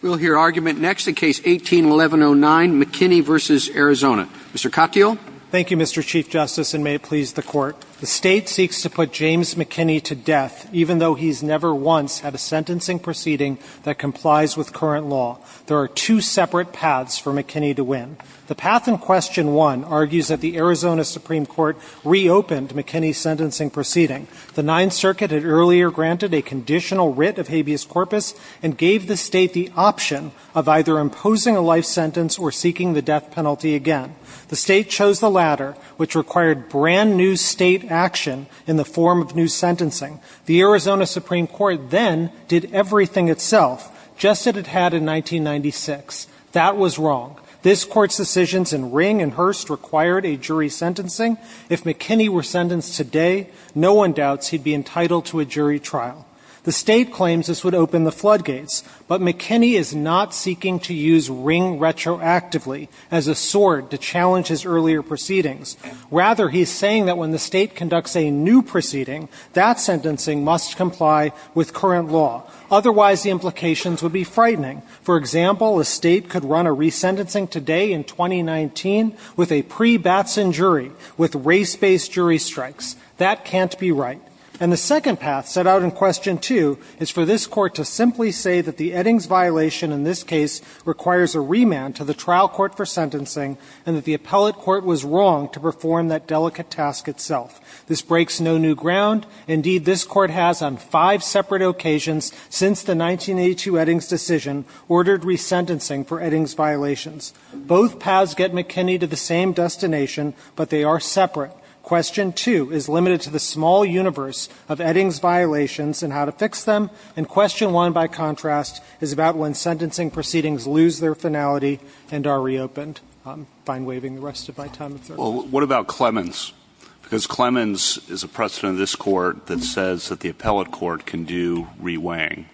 We'll hear argument next in Case 18-1109, McKinney v. Arizona. Mr. Katyal? Thank you, Mr. Chief Justice, and may it please the Court. The State seeks to put James McKinney to death even though he's never once had a sentencing proceeding that complies with current law. There are two separate paths for McKinney to win. The path in Question 1 argues that the Arizona Supreme Court reopened McKinney's sentencing proceeding. The Ninth Circuit had earlier granted a conditional writ of habeas corpus and gave the State the option of either imposing a life sentence or seeking the death penalty again. The State chose the latter, which required brand-new State action in the form of new sentencing. The Arizona Supreme Court then did everything itself, just as it had in 1996. That was wrong. This Court's decisions in Ring and Hurst required a jury sentencing. If McKinney were sentenced today, no one doubts he'd be entitled to a jury trial. The State claims this would open the floodgates, but McKinney is not seeking to use Ring retroactively as a sword to challenge his earlier proceedings. Rather, he's saying that when the State conducts a new proceeding, that sentencing must comply with current law. For example, a State could run a resentencing today in 2019 with a pre-Batson jury with race-based jury strikes. That can't be right. And the second path set out in Question 2 is for this Court to simply say that the Eddings violation in this case requires a remand to the trial court for sentencing and that the appellate court was wrong to perform that delicate task itself. This breaks no new ground. Indeed, this Court has on five separate occasions since the 1982 Eddings decision ordered resentencing for Eddings violations. Both paths get McKinney to the same destination, but they are separate. Question 2 is limited to the small universe of Eddings violations and how to fix them. And Question 1, by contrast, is about when sentencing proceedings lose their finality and are reopened. I'm fine waving the rest of my time. Well, what about Clemens? Because Clemens is a precedent of this Court that says that the appellate court can do re-weighing.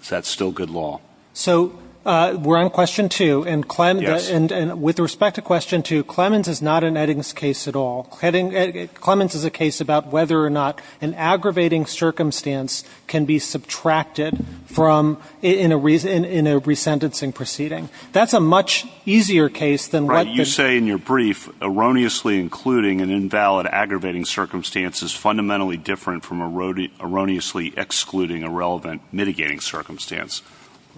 Is that still good law? So we're on Question 2. And with respect to Question 2, Clemens is not an Eddings case at all. Clemens is a case about whether or not an aggravating circumstance can be subtracted from in a resentencing proceeding. That's a much easier case than what the – Erroneously including an invalid aggravating circumstance is fundamentally different from erroneously excluding a relevant mitigating circumstance.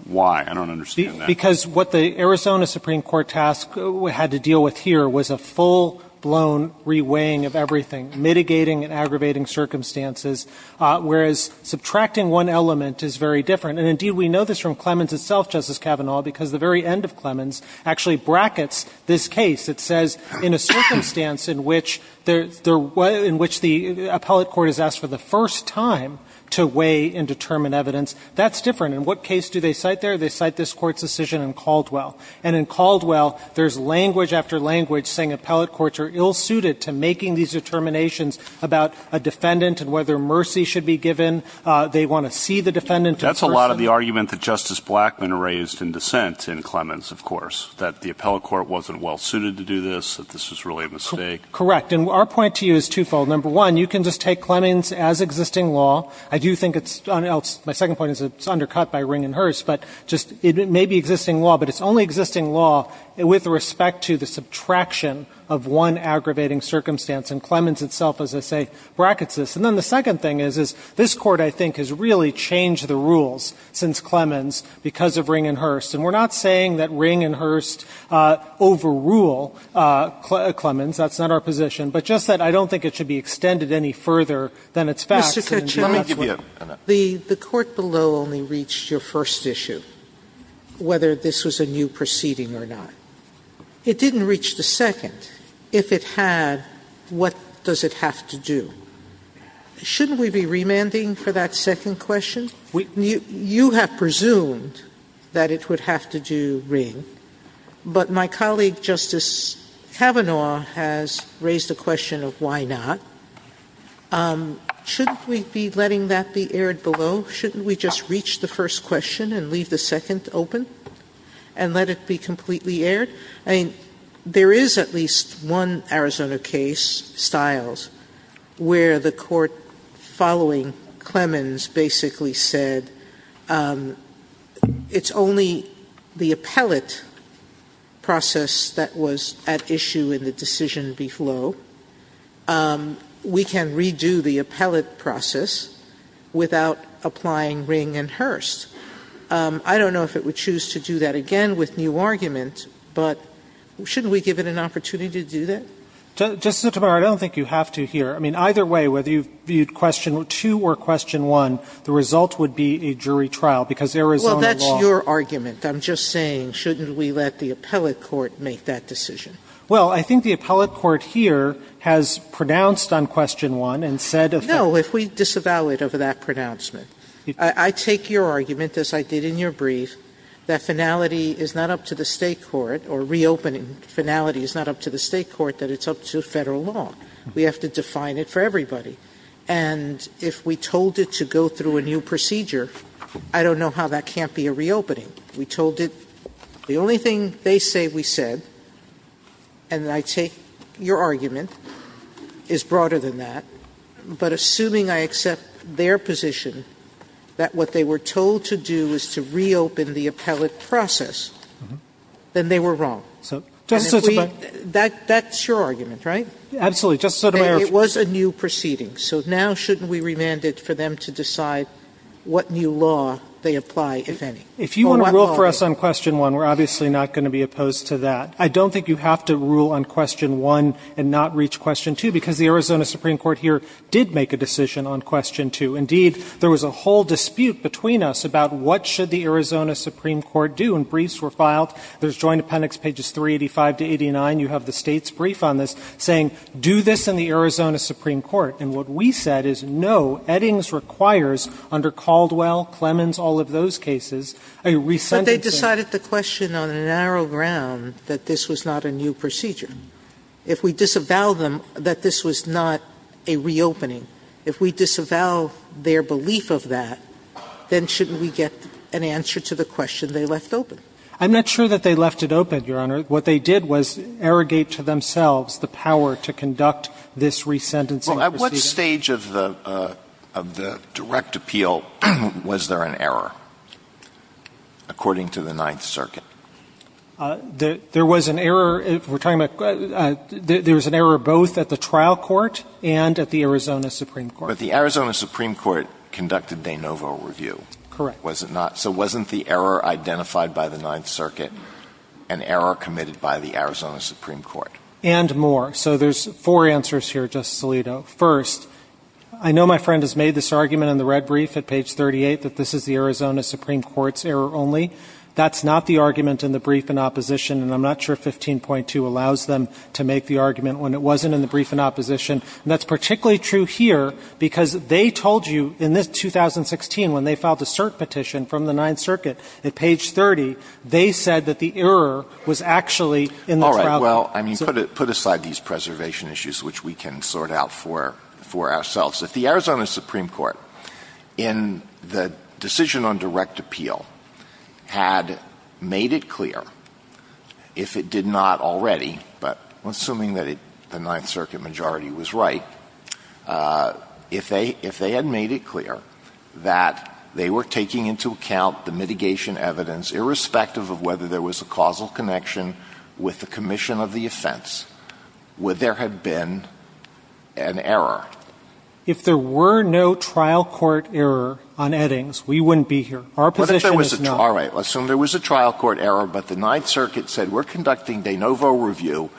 Why? I don't understand that. Because what the Arizona Supreme Court task had to deal with here was a full-blown re-weighing of everything, mitigating and aggravating circumstances, whereas subtracting one element is very different. And, indeed, we know this from Clemens itself, Justice Kavanaugh, because the very end of Clemens actually brackets this case. It says in a circumstance in which there – in which the appellate court is asked for the first time to weigh and determine evidence, that's different. In what case do they cite there? They cite this Court's decision in Caldwell. And in Caldwell, there's language after language saying appellate courts are ill-suited to making these determinations about a defendant and whether mercy should be given. They want to see the defendant in person. But that's a lot of the argument that Justice Blackmun raised in dissent in Clemens, of course, that the appellate court wasn't well-suited to do this, that this was really a mistake. Correct. And our point to you is twofold. Number one, you can just take Clemens as existing law. I do think it's – my second point is it's undercut by Ring and Hurst, but just – it may be existing law, but it's only existing law with respect to the subtraction of one aggravating circumstance. And Clemens itself, as I say, brackets this. And then the second thing is, is this Court, I think, has really changed the rules since Clemens because of Ring and Hurst. And we're not saying that Ring and Hurst overrule Clemens. That's not our position. But just that I don't think it should be extended any further than its facts. Sotomayor, let me give you a minute. Sotomayor, the Court below only reached your first issue, whether this was a new proceeding or not. It didn't reach the second. If it had, what does it have to do? Shouldn't we be remanding for that second question? You have presumed that it would have to do Ring. But my colleague, Justice Kavanaugh, has raised the question of why not. Shouldn't we be letting that be aired below? Shouldn't we just reach the first question and leave the second open and let it be completely aired? I mean, there is at least one Arizona case, Stiles, where the Court following Clemens basically said, it's only the appellate process that was at issue in the decision B-Flow. We can redo the appellate process without applying Ring and Hurst. I don't know if it would choose to do that again with new argument, but shouldn't we give it an opportunity to do that? Justice Sotomayor, I don't think you have to here. I mean, either way, whether you viewed question 2 or question 1, the result would be a jury trial, because Arizona law. Sotomayor, well, that's your argument. I'm just saying, shouldn't we let the appellate court make that decision? Well, I think the appellate court here has pronounced on question 1 and said if the No, if we disavow it over that pronouncement. I take your argument, as I did in your brief, that finality is not up to the State Court, or reopening finality is not up to the State Court, that it's up to Federal law. We have to define it for everybody. And if we told it to go through a new procedure, I don't know how that can't be a reopening. We told it the only thing they say we said, and I take your argument, is broader than that. But assuming I accept their position that what they were told to do is to reopen the appellate process, then they were wrong. Justice Sotomayor. That's your argument, right? Absolutely. Justice Sotomayor. It was a new proceeding. So now shouldn't we remand it for them to decide what new law they apply, if any? If you want to rule for us on question 1, we're obviously not going to be opposed to that. I don't think you have to rule on question 1 and not reach question 2, because the Arizona Supreme Court here did make a decision on question 2. Indeed, there was a whole dispute between us about what should the Arizona Supreme Court do. And briefs were filed. There's Joint Appendix pages 385 to 89. You have the State's brief on this saying, do this in the Arizona Supreme Court. And what we said is, no, Eddings requires under Caldwell, Clemens, all of those cases, a rescinded sentence. But they decided the question on a narrow ground that this was not a new procedure. If we disavow them that this was not a reopening, if we disavow their belief of that, then shouldn't we get an answer to the question they left open? I'm not sure that they left it open, Your Honor. What they did was arrogate to themselves the power to conduct this rescinded procedure. Well, at what stage of the direct appeal was there an error, according to the Ninth Circuit? There was an error. We're talking about there was an error both at the trial court and at the Arizona Supreme Court. But the Arizona Supreme Court conducted de novo review. Correct. Was it not? So wasn't the error identified by the Ninth Circuit an error committed by the Arizona Supreme Court? And more. So there's four answers here, Justice Alito. First, I know my friend has made this argument in the red brief at page 38 that this is the Arizona Supreme Court's error only. That's not the argument in the brief in opposition. And I'm not sure 15.2 allows them to make the argument when it wasn't in the brief in opposition. And that's particularly true here, because they told you in this 2016, when they did the review of the Ninth Circuit at page 30, they said that the error was actually in the trial court. All right. Well, I mean, put aside these preservation issues, which we can sort out for ourselves. If the Arizona Supreme Court, in the decision on direct appeal, had made it clear if it did not already, but assuming that the Ninth Circuit majority was right, if they had made it clear that they were taking into account the mitigation evidence, irrespective of whether there was a causal connection with the commission of the offense, would there have been an error? If there were no trial court error on Eddings, we wouldn't be here. Our position is no. All right. Assume there was a trial court error, but the Ninth Circuit said we're conducting de novo review,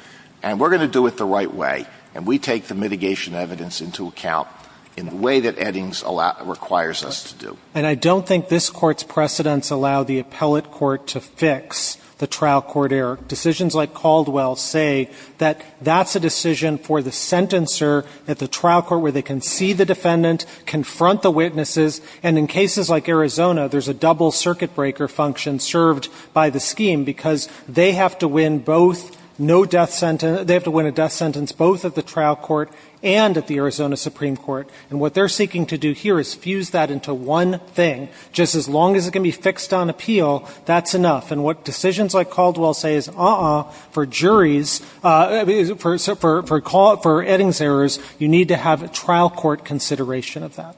and we're going to do it the right way, and we take the mitigation evidence into account in the way that Eddings requires us to do. And I don't think this Court's precedents allow the appellate court to fix the trial court error. Decisions like Caldwell say that that's a decision for the sentencer at the trial court where they can see the defendant, confront the witnesses, and in cases like Arizona, there's a double circuit breaker function served by the scheme, because they have to win both no death sentence, they have to win a death sentence both at the trial court and at the Arizona Supreme Court. And what they're seeking to do here is fuse that into one thing. Just as long as it can be fixed on appeal, that's enough. And what decisions like Caldwell say is, uh-uh, for juries, for Eddings errors, you need to have a trial court consideration of that.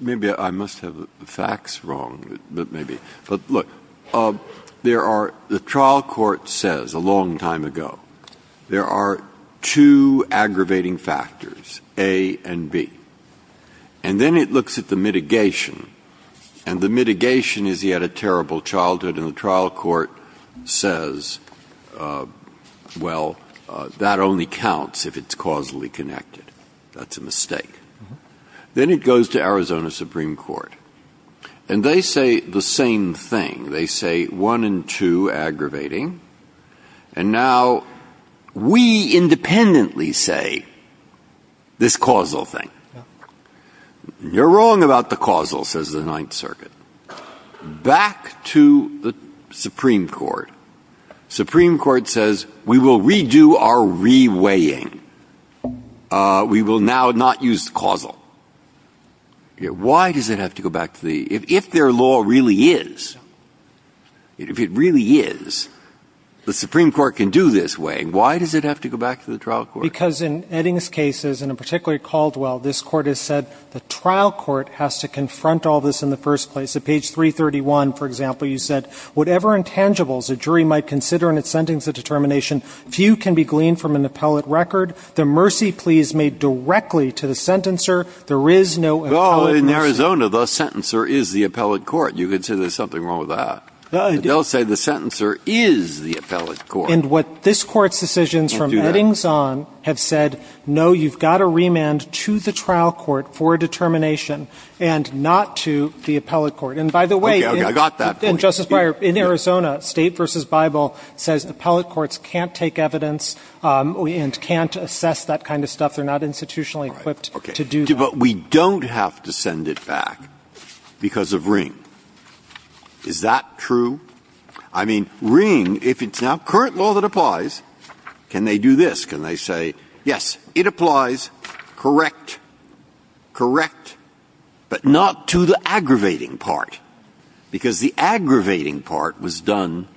Maybe I must have the facts wrong, but maybe. But look, there are the trial court says a long time ago, there are two aggravating factors, A and B. And then it looks at the mitigation, and the mitigation is he had a terrible childhood, and the trial court says, well, that only counts if it's caused by causally connected. That's a mistake. Then it goes to Arizona Supreme Court. And they say the same thing. They say one and two aggravating. And now we independently say this causal thing. You're wrong about the causal, says the Ninth Circuit. Back to the Supreme Court. Supreme Court says we will redo our reweighing. We will now not use causal. Why does it have to go back to the, if their law really is, if it really is, the Supreme Court can do this way, why does it have to go back to the trial court? Because in Eddings' cases, and in particular Caldwell, this court has said the same thing in the first place. At page 331, for example, you said, whatever intangibles a jury might consider in its sentence of determination, few can be gleaned from an appellate record. The mercy plea is made directly to the sentencer. There is no appellate version. Well, in Arizona, the sentencer is the appellate court. You could say there's something wrong with that. They'll say the sentencer is the appellate court. And what this court's decisions from Eddings on have said, no, you've got to remand to the trial court for determination and not to the appellate court. And by the way, Justice Breyer, in Arizona, State v. Bible says appellate courts can't take evidence and can't assess that kind of stuff. They're not institutionally equipped to do that. But we don't have to send it back because of Ring. Is that true? I mean, Ring, if it's not current law that applies, can they do this? Can they say, yes, it applies, correct, correct, but not to the aggravating part, because the aggravating part was done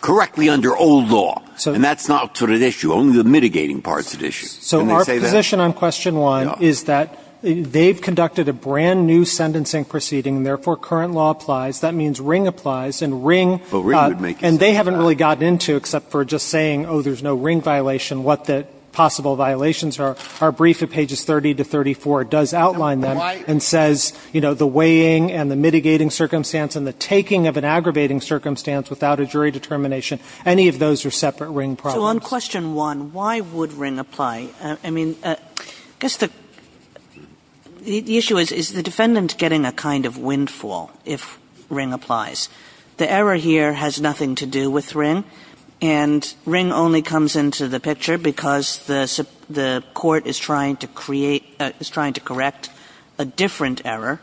correctly under old law, and that's not what's at issue. Only the mitigating part's at issue. And they say that. So our position on question one is that they've conducted a brand-new sentencing proceeding, and therefore current law applies. That means Ring applies. And they haven't really gotten into, except for just saying, oh, there's no Ring violation, what the possible violations are. Our brief at pages 30 to 34 does outline that and says, you know, the weighing and the mitigating circumstance and the taking of an aggravating circumstance without a jury determination, any of those are separate Ring problems. So on question one, why would Ring apply? I mean, I guess the issue is, is the defendant getting a kind of windfall if Ring applies. The error here has nothing to do with Ring. And Ring only comes into the picture because the court is trying to create, is trying to correct a different error.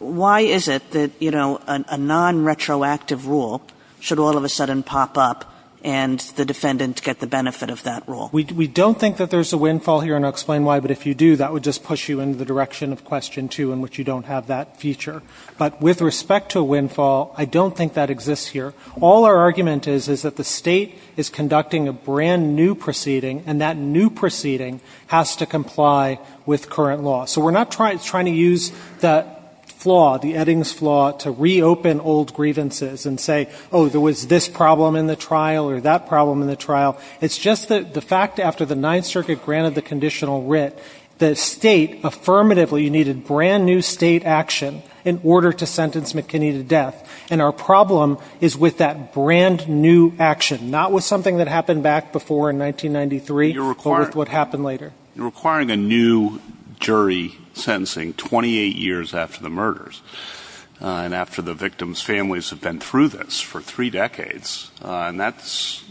Why is it that, you know, a non-retroactive rule should all of a sudden pop up and the defendant get the benefit of that rule? We don't think that there's a windfall here, and I'll explain why. But if you do, that would just push you into the direction of question two in which you don't have that feature. But with respect to windfall, I don't think that exists here. All our argument is, is that the State is conducting a brand-new proceeding, and that new proceeding has to comply with current law. So we're not trying to use that flaw, the Eddings flaw, to reopen old grievances and say, oh, there was this problem in the trial or that problem in the trial. It's just that the fact after the Ninth Circuit granted the conditional writ, the McKinney to death. And our problem is with that brand-new action, not with something that happened back before in 1993, but with what happened later. You're requiring a new jury sentencing 28 years after the murders and after the victim's families have been through this for three decades, and that's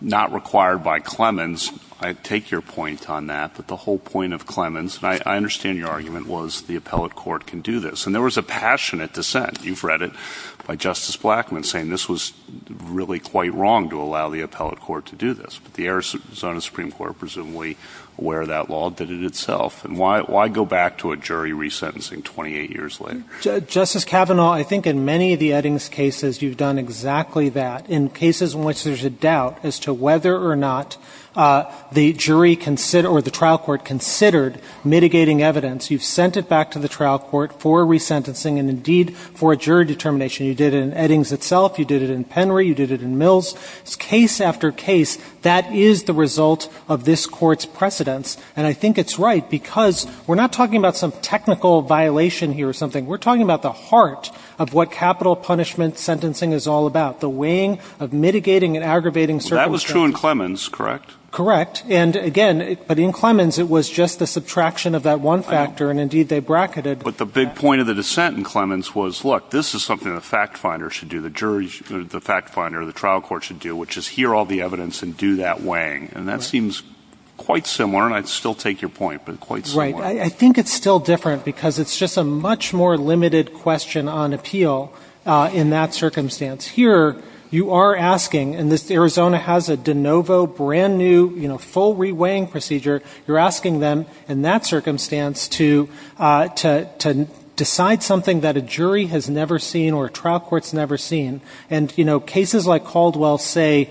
not required by Clemens. I take your point on that, but the whole point of Clemens, and I understand your view on this, and there was a passionate dissent. You've read it by Justice Blackmun, saying this was really quite wrong to allow the appellate court to do this. But the Arizona Supreme Court, presumably, aware of that law, did it itself. And why go back to a jury resentencing 28 years later? Justice Kavanaugh, I think in many of the Eddings cases, you've done exactly that. In cases in which there's a doubt as to whether or not the jury or the trial court considered mitigating evidence, you've sent it back to the trial court for resentencing and, indeed, for a jury determination. You did it in Eddings itself. You did it in Penry. You did it in Mills. Case after case, that is the result of this Court's precedence. And I think it's right because we're not talking about some technical violation here or something. We're talking about the heart of what capital punishment sentencing is all about, the weighing of mitigating and aggravating circumstances. Well, that was true in Clemens, correct? Correct. And, again, but in Clemens, it was just the subtraction of that one factor. And, indeed, they bracketed. But the big point of the dissent in Clemens was, look, this is something the fact finder should do, the jury should do, the fact finder, the trial court should do, which is hear all the evidence and do that weighing. And that seems quite similar. And I'd still take your point, but quite similar. Right. I think it's still different because it's just a much more limited question on appeal in that circumstance. Here, you are asking, and Arizona has a de novo, brand new, full re-weighing procedure. You're asking them, in that circumstance, to decide something that a jury has never seen or a trial court's never seen. And cases like Caldwell say,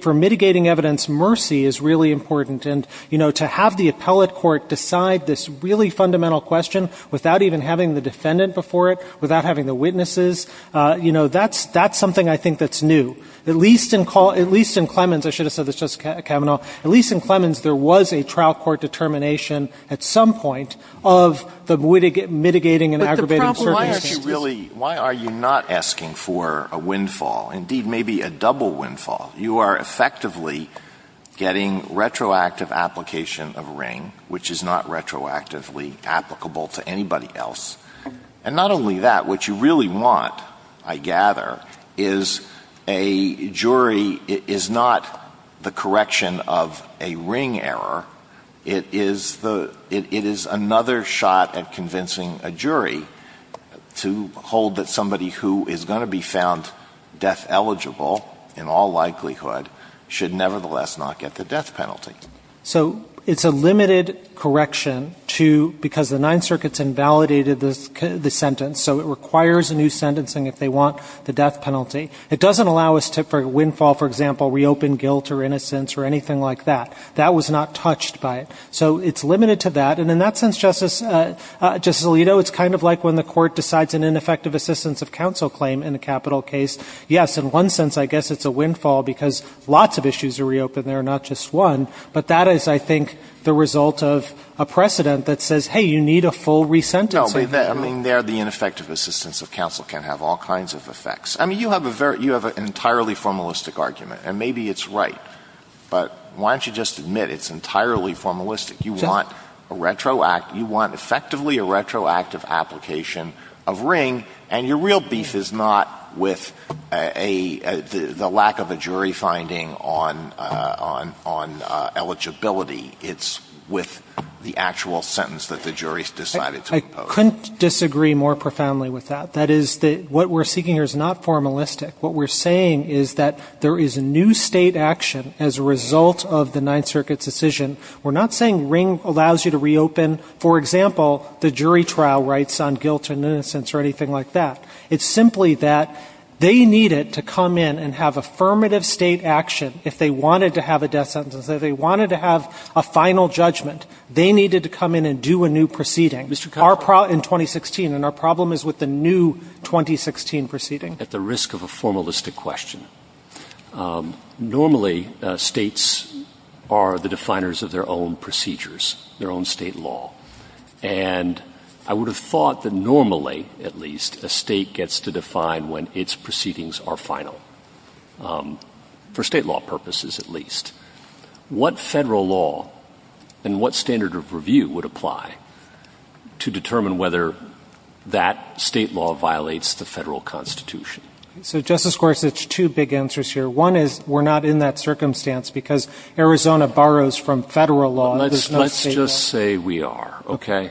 for mitigating evidence, mercy is really important. And to have the appellate court decide this really fundamental question without even having the defendant before it, without having the witnesses, that's something I think that's new. At least in Clemens, I should have said this, Justice Kavanaugh, at least in Clemens, there was a trial court determination at some point of the mitigating and aggravating circumstances. But the problem, why are you not asking for a windfall? Indeed, maybe a double windfall. You are effectively getting retroactive application of a ring, which is not retroactively applicable to anybody else. And not only that, what you really want, I gather, is a jury is not the correction of a ring error. It is another shot at convincing a jury to hold that somebody who is going to be found death eligible in all likelihood should nevertheless not get the death penalty. So it's a limited correction because the Ninth Circuit has invalidated the sentence. So it requires a new sentencing if they want the death penalty. It doesn't allow us to, for a windfall, for example, reopen guilt or innocence or anything like that. That was not touched by it. So it's limited to that. And in that sense, Justice Alito, it's kind of like when the court decides an ineffective assistance of counsel claim in a capital case. Yes, in one sense, I guess it's a windfall because lots of issues are reopened and there are not just one. But that is, I think, the result of a precedent that says, hey, you need a full resentencing. No, I mean, there the ineffective assistance of counsel can have all kinds of effects. I mean, you have an entirely formalistic argument. And maybe it's right. But why don't you just admit it's entirely formalistic? You want effectively a retroactive application of ring. And your real beef is not with the lack of a jury finding on eligibility. It's with the actual sentence that the jury has decided to impose. I couldn't disagree more profoundly with that. That is, what we're seeking here is not formalistic. What we're saying is that there is a new State action as a result of the Ninth Circuit's decision. We're not saying ring allows you to reopen, for example, the jury trial rights on guilt and innocence or anything like that. It's simply that they needed to come in and have affirmative State action if they wanted to have a death sentence, if they wanted to have a final judgment. They needed to come in and do a new proceeding in 2016. And our problem is with the new 2016 proceeding. At the risk of a formalistic question, normally States are the definers of their own procedures, their own State law. And I would have thought that normally, at least, a State gets to define when its proceedings are final, for State law purposes at least. What Federal law and what standard of review would apply to determine whether that State law violates the Federal Constitution? So, Justice Gorsuch, two big answers here. One is we're not in that circumstance because Arizona borrows from Federal law. There's no State law. Let's just say we are, okay?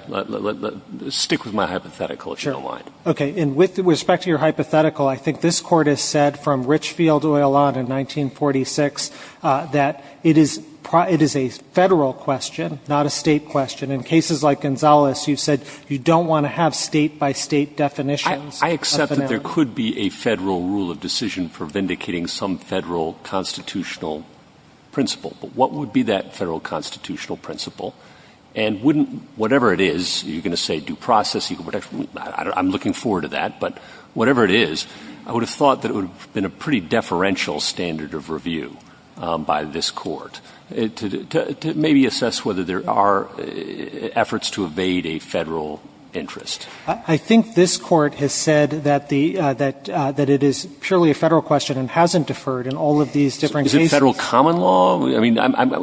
Stick with my hypothetical, if you don't mind. Sure. Okay. And with respect to your hypothetical, I think this Court has said from Richfield Oialat in 1946 that it is a Federal question, not a State question. In cases like Gonzales, you've said you don't want to have State-by-State definitions. I accept that there could be a Federal rule of decision for vindicating some Federal constitutional principle. But what would be that Federal constitutional principle? And wouldn't — whatever it is, you're going to say due process, equal protection. I'm looking forward to that. But whatever it is, I would have thought that it would have been a pretty deferential standard of review by this Court to maybe assess whether there are efforts to evade a Federal interest. I think this Court has said that the — that it is purely a Federal question and hasn't deferred in all of these different cases. Is it Federal common law? I mean,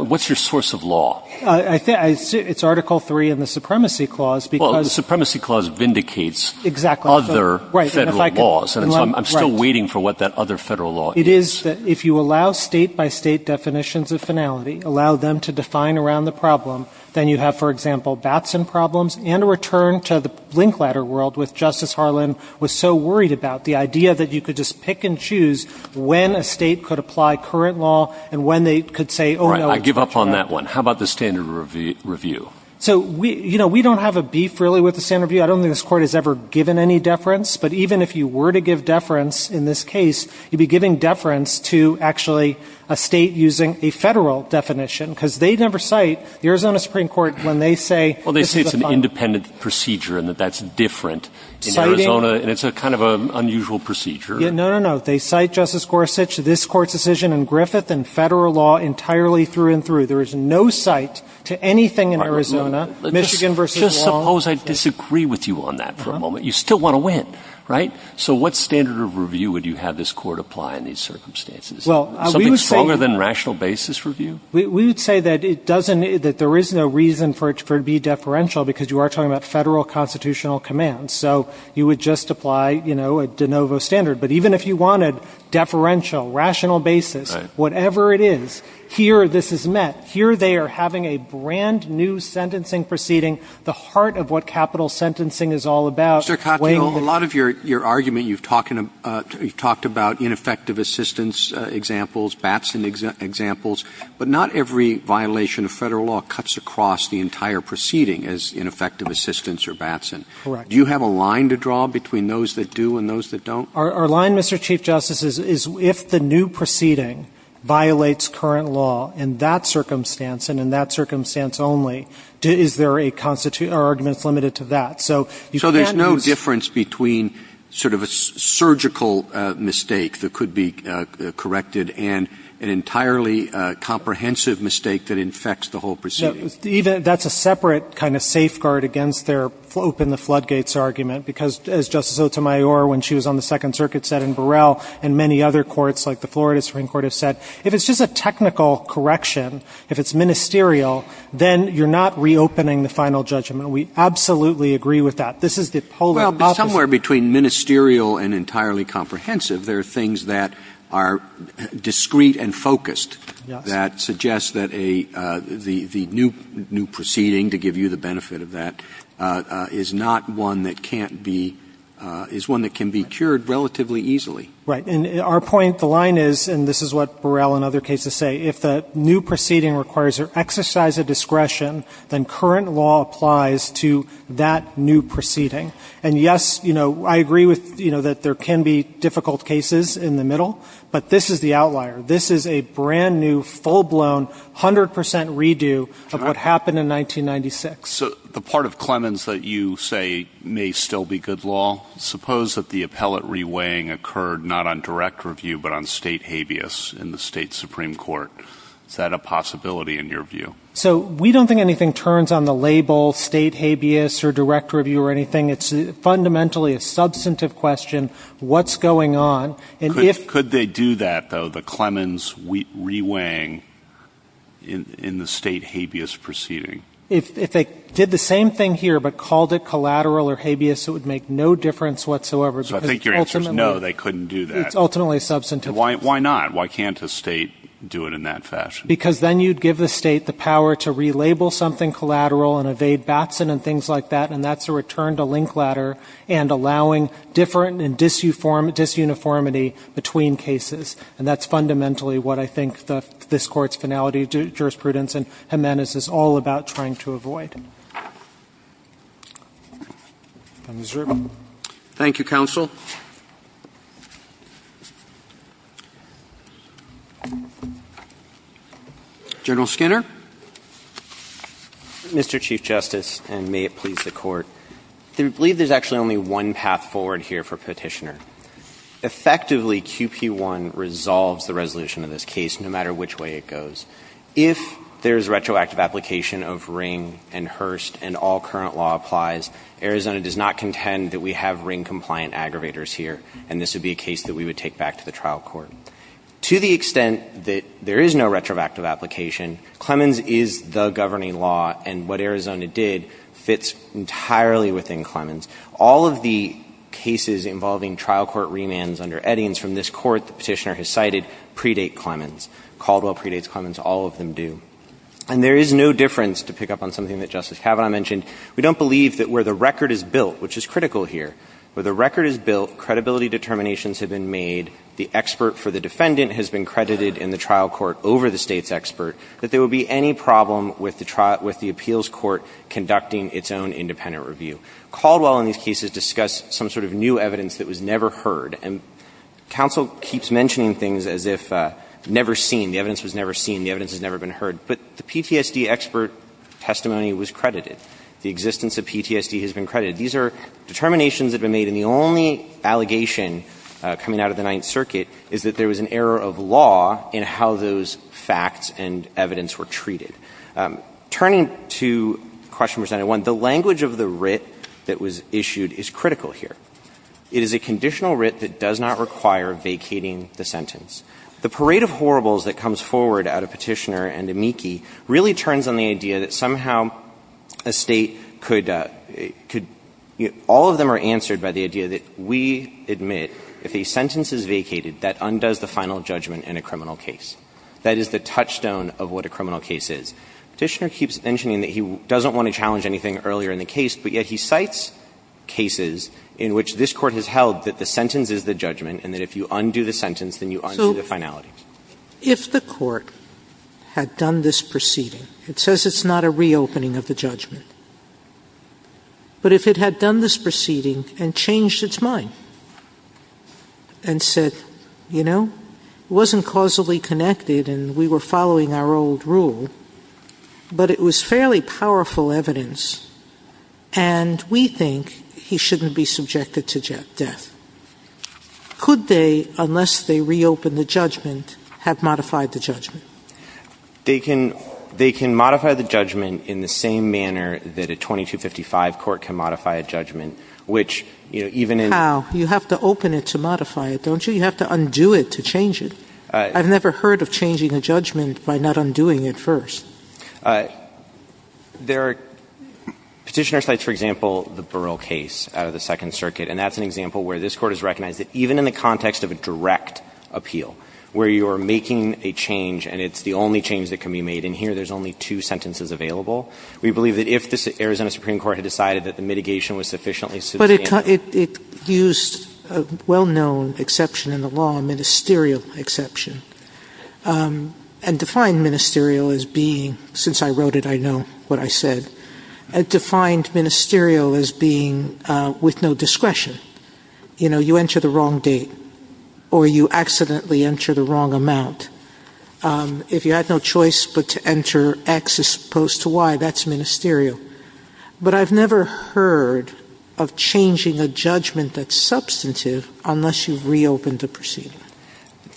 what's your source of law? I think it's Article III in the Supremacy Clause because — Well, the Supremacy Clause vindicates other Federal laws. Right. And if I could — I'm still waiting for what that other Federal law is. It is that if you allow State-by-State definitions of finality, allow them to define around the problem, then you have, for example, Batson problems and a return to the blink ladder world, which Justice Harlan was so worried about. The idea that you could just pick and choose when a State could apply current law and when they could say, oh, no — Right. I give up on that one. How about the standard review? So we — you know, we don't have a beef, really, with the standard review. I don't think this Court has ever given any deference. But even if you were to give deference in this case, you'd be giving deference to actually a State using a Federal definition because they never cite the Arizona Supreme Court when they say — Well, they say it's an independent procedure and that that's different in Arizona. Citing — And it's a kind of unusual procedure. No, no, no. They cite Justice Gorsuch, this Court's decision, and Griffith and Federal law entirely through and through. There is no cite to anything in Arizona, Michigan v. Long. Just suppose I disagree with you on that for a moment. You still want to win, right? So what standard of review would you have this Court apply in these circumstances? Well, we would say — Something stronger than rational basis review? We would say that it doesn't — that there is no reason for it to be deferential because you are talking about Federal constitutional commands. So you would just apply, you know, a de novo standard. But even if you wanted deferential, rational basis, whatever it is, here this is met. Here they are having a brand-new sentencing proceeding, the heart of what capital sentencing is all about. Mr. Katyal, a lot of your argument, you've talked about ineffective assistance examples, Batson examples, but not every violation of Federal law cuts across the entire proceeding as ineffective assistance or Batson. Correct. Do you have a line to draw between those that do and those that don't? Our line, Mr. Chief Justice, is if the new proceeding violates current law in that circumstance and in that circumstance only, is there a constitutional — our argument is limited to that. So you can't use — So there's no difference between sort of a surgical mistake that could be corrected and an entirely comprehensive mistake that infects the whole proceeding? That's a separate kind of safeguard against their open the floodgates argument because, as Justice Sotomayor, when she was on the Second Circuit, said in Burrell and many other courts like the Florida Supreme Court have said, if it's just a technical correction, if it's ministerial, then you're not reopening the final judgment. We absolutely agree with that. This is the polar opposite. But somewhere between ministerial and entirely comprehensive, there are things that are discrete and focused that suggest that a — the new proceeding, to give you the — is one that can be cured relatively easily. Right. And our point, the line is, and this is what Burrell and other cases say, if the new proceeding requires or exercise a discretion, then current law applies to that new proceeding. And, yes, you know, I agree with — you know, that there can be difficult cases in the middle. But this is the outlier. This is a brand-new, full-blown, 100 percent redo of what happened in 1996. So the part of Clemens that you say may still be good law, suppose that the appellate reweighing occurred not on direct review but on state habeas in the state Supreme Court. Is that a possibility in your view? So we don't think anything turns on the label state habeas or direct review or anything. It's fundamentally a substantive question. What's going on? And if — Could they do that, though, the Clemens reweighing in the state habeas proceeding? If they did the same thing here but called it collateral or habeas, it would make no difference whatsoever because ultimately — So I think your answer is no, they couldn't do that. It's ultimately a substantive question. Why not? Why can't a State do it in that fashion? Because then you'd give the State the power to relabel something collateral and evade Batson and things like that, and that's a return-to-link ladder and allowing different and disuniformity between cases. And that's fundamentally what I think this Court's finality jurisprudence in Jimenez is all about, trying to avoid. Mr. Dreeben. Thank you, counsel. General Skinner. Mr. Chief Justice, and may it please the Court, we believe there's actually only one path forward here for Petitioner. Effectively, QP1 resolves the resolution of this case, no matter which way it goes. If there's retroactive application of Ring and Hurst and all current law applies, Arizona does not contend that we have Ring-compliant aggravators here, and this would be a case that we would take back to the trial court. To the extent that there is no retroactive application, Clemens is the governing law, and what Arizona did fits entirely within Clemens. All of the cases involving trial court remands under Eddings from this Court that Petitioner has cited predate Clemens. Caldwell predates Clemens. All of them do. And there is no difference, to pick up on something that Justice Kavanaugh mentioned, we don't believe that where the record is built, which is critical here, where the record is built, credibility determinations have been made, the expert for the defendant has been credited in the trial court over the State's expert, that there would be any problem with the trial – with the appeals court conducting its own independent review. Caldwell in these cases discussed some sort of new evidence that was never heard. And counsel keeps mentioning things as if never seen. The evidence was never seen. The evidence has never been heard. But the PTSD expert testimony was credited. The existence of PTSD has been credited. These are determinations that have been made. And the only allegation coming out of the Ninth Circuit is that there was an error of law in how those facts and evidence were treated. Turning to question percentage 1, the language of the writ that was issued is critical here. It is a conditional writ that does not require vacating the sentence. The parade of horribles that comes forward out of Petitioner and Amici really turns on the idea that somehow a State could – all of them are answered by the idea that we admit if a sentence is vacated, that undoes the final judgment in a criminal case. That is the touchstone of what a criminal case is. Petitioner keeps mentioning that he doesn't want to challenge anything earlier in the case, but yet he cites cases in which this Court has held that the sentence is the judgment and that if you undo the sentence, then you undo the finality. Sotomayor If the Court had done this proceeding, it says it's not a reopening of the judgment, but if it had done this proceeding and changed its mind and said, you know, it wasn't causally connected and we were following our old rule, but it was fairly powerful evidence, and we think he shouldn't be subjected to death. Could they, unless they reopened the judgment, have modified the judgment? They can modify the judgment in the same manner that a 2255 court can modify a judgment, which even in – Sotomayor How? You have to open it to modify it, don't you? You have to undo it to change it. I've never heard of changing a judgment by not undoing it first. There are Petitioner cites, for example, the Burrill case out of the Second Circuit, and that's an example where this Court has recognized that even in the context of a direct appeal, where you are making a change and it's the only change that can be made, and here there's only two sentences available, we believe that if the Arizona Supreme Court had decided that the mitigation was sufficiently substantial It used a well-known exception in the law, a ministerial exception, and defined ministerial as being – since I wrote it, I know what I said – it defined ministerial as being with no discretion. You know, you enter the wrong date or you accidentally enter the wrong amount. If you had no choice but to enter X as opposed to Y, that's ministerial. But I've never heard of changing a judgment that's substantive unless you've reopened the proceeding.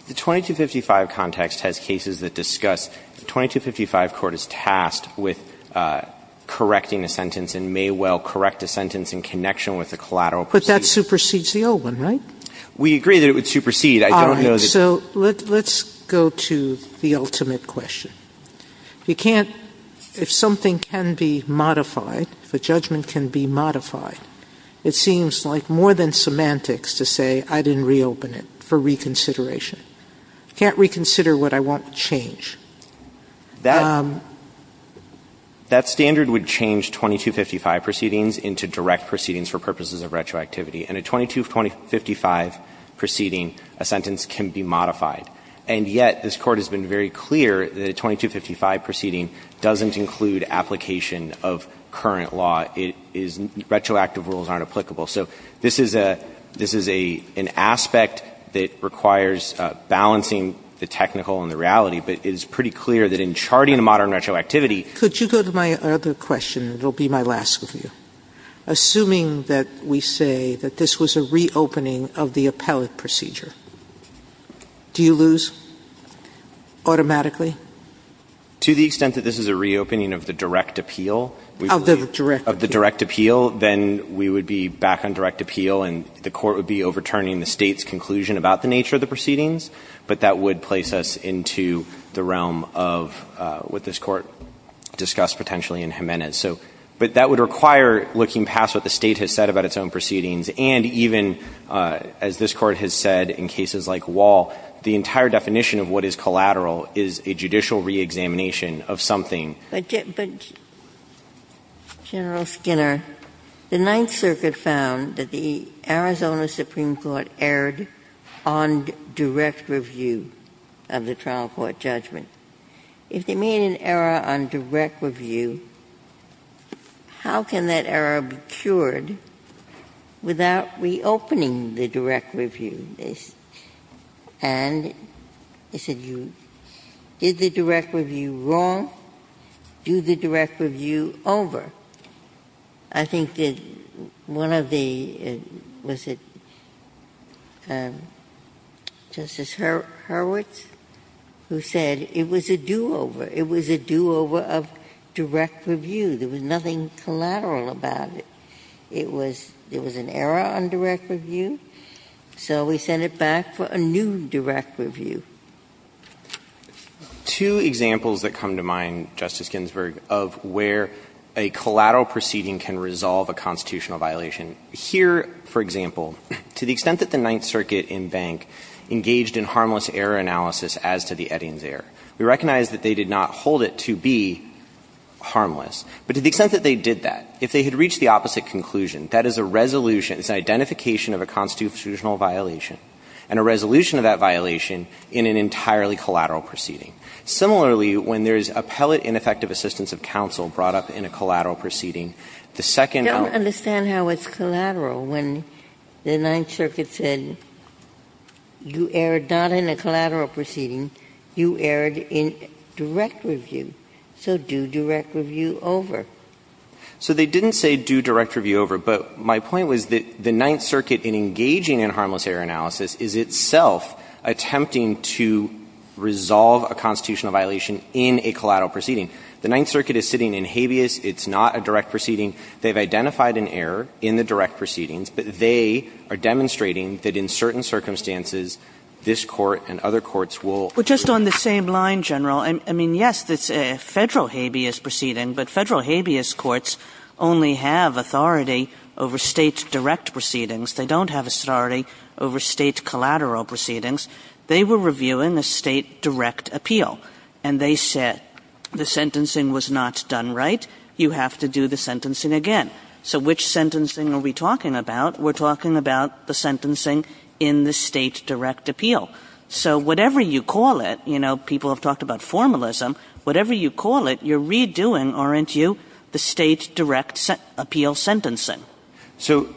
The 2255 context has cases that discuss – the 2255 Court is tasked with correcting a sentence and may well correct a sentence in connection with a collateral proceeding. But that supersedes the old one, right? We agree that it would supersede. I don't know that – All right. So let's go to the ultimate question. You can't – if something can be modified, if a judgment can be modified, it seems like more than semantics to say I didn't reopen it for reconsideration. You can't reconsider what I want to change. That standard would change 2255 proceedings into direct proceedings for purposes of retroactivity, and a 2255 proceeding, a sentence can be modified. And yet this Court has been very clear that a 2255 proceeding doesn't include application of current law. It is – retroactive rules aren't applicable. So this is a – this is an aspect that requires balancing the technical and the reality, but it is pretty clear that in charting a modern retroactivity – Could you go to my other question? It will be my last review. Assuming that we say that this was a reopening of the appellate procedure, do you think we would lose automatically? To the extent that this is a reopening of the direct appeal. Of the direct appeal. Of the direct appeal. Then we would be back on direct appeal and the Court would be overturning the State's conclusion about the nature of the proceedings, but that would place us into the realm of what this Court discussed potentially in Jimenez. So – but that would require looking past what the State has said about its own proceedings and even, as this Court has said in cases like Wall, the entire definition of what is collateral is a judicial reexamination of something. But General Skinner, the Ninth Circuit found that the Arizona Supreme Court erred on direct review of the trial court judgment. If they made an error on direct review, how can that error be cured without reopening the direct review? And they said you did the direct review wrong, do the direct review over. I think that one of the – was it Justice Hurwitz who said it was a do-over. It was a do-over of direct review. There was nothing collateral about it. It was – there was an error on direct review. So we sent it back for a new direct review. Two examples that come to mind, Justice Ginsburg, of where a collateral proceeding can resolve a constitutional violation. Here, for example, to the extent that the Ninth Circuit in Bank engaged in harmless error analysis as to the Eddings error, we recognize that they did not hold it to be harmless. But to the extent that they did that, if they had reached the opposite conclusion, that is a resolution, it's an identification of a constitutional violation. And a resolution of that violation in an entirely collateral proceeding. Similarly, when there's appellate ineffective assistance of counsel brought up in a collateral proceeding, the second – I don't understand how it's collateral when the Ninth Circuit said you erred not in a collateral proceeding, you erred in direct review. So do direct review over. So they didn't say do direct review over. But my point was that the Ninth Circuit in engaging in harmless error analysis is itself attempting to resolve a constitutional violation in a collateral proceeding. The Ninth Circuit is sitting in habeas. It's not a direct proceeding. They've identified an error in the direct proceedings. But they are demonstrating that in certain circumstances, this Court and other courts will – Kagan. Well, just on the same line, General, I mean, yes, it's a Federal habeas proceeding, but Federal habeas courts only have authority over State direct proceedings. They don't have authority over State collateral proceedings. They were reviewing a State direct appeal. And they said the sentencing was not done right. You have to do the sentencing again. So which sentencing are we talking about? We're talking about the sentencing in the State direct appeal. So whatever you call it, you know, people have talked about formalism. Whatever you call it, you're redoing, aren't you, the State direct appeal sentencing? So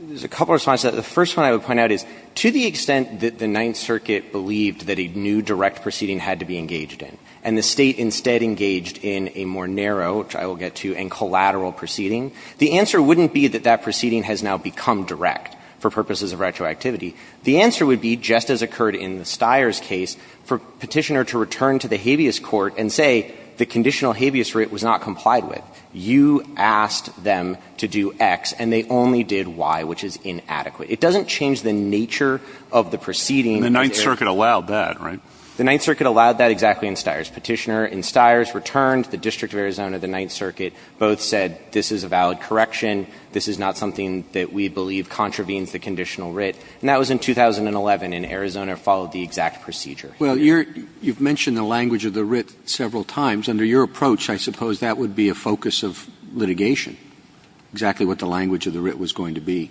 there's a couple of responses. The first one I would point out is to the extent that the Ninth Circuit believed that a new direct proceeding had to be engaged in, and the State instead engaged in a more narrow, which I will get to, and collateral proceeding, the answer wouldn't be that that proceeding has now become direct for purposes of retroactivity. The answer would be, just as occurred in the Stiers case, for Petitioner to return to the habeas court and say the conditional habeas writ was not complied with. You asked them to do X, and they only did Y, which is inadequate. It doesn't change the nature of the proceeding. And the Ninth Circuit allowed that, right? The Ninth Circuit allowed that exactly in Stiers. Petitioner in Stiers returned. The District of Arizona, the Ninth Circuit, both said this is a valid correction. This is not something that we believe contravenes the conditional writ. And that was in 2011 in Arizona, followed the exact procedure. Well, you're you've mentioned the language of the writ several times. Under your approach, I suppose that would be a focus of litigation, exactly what the language of the writ was going to be.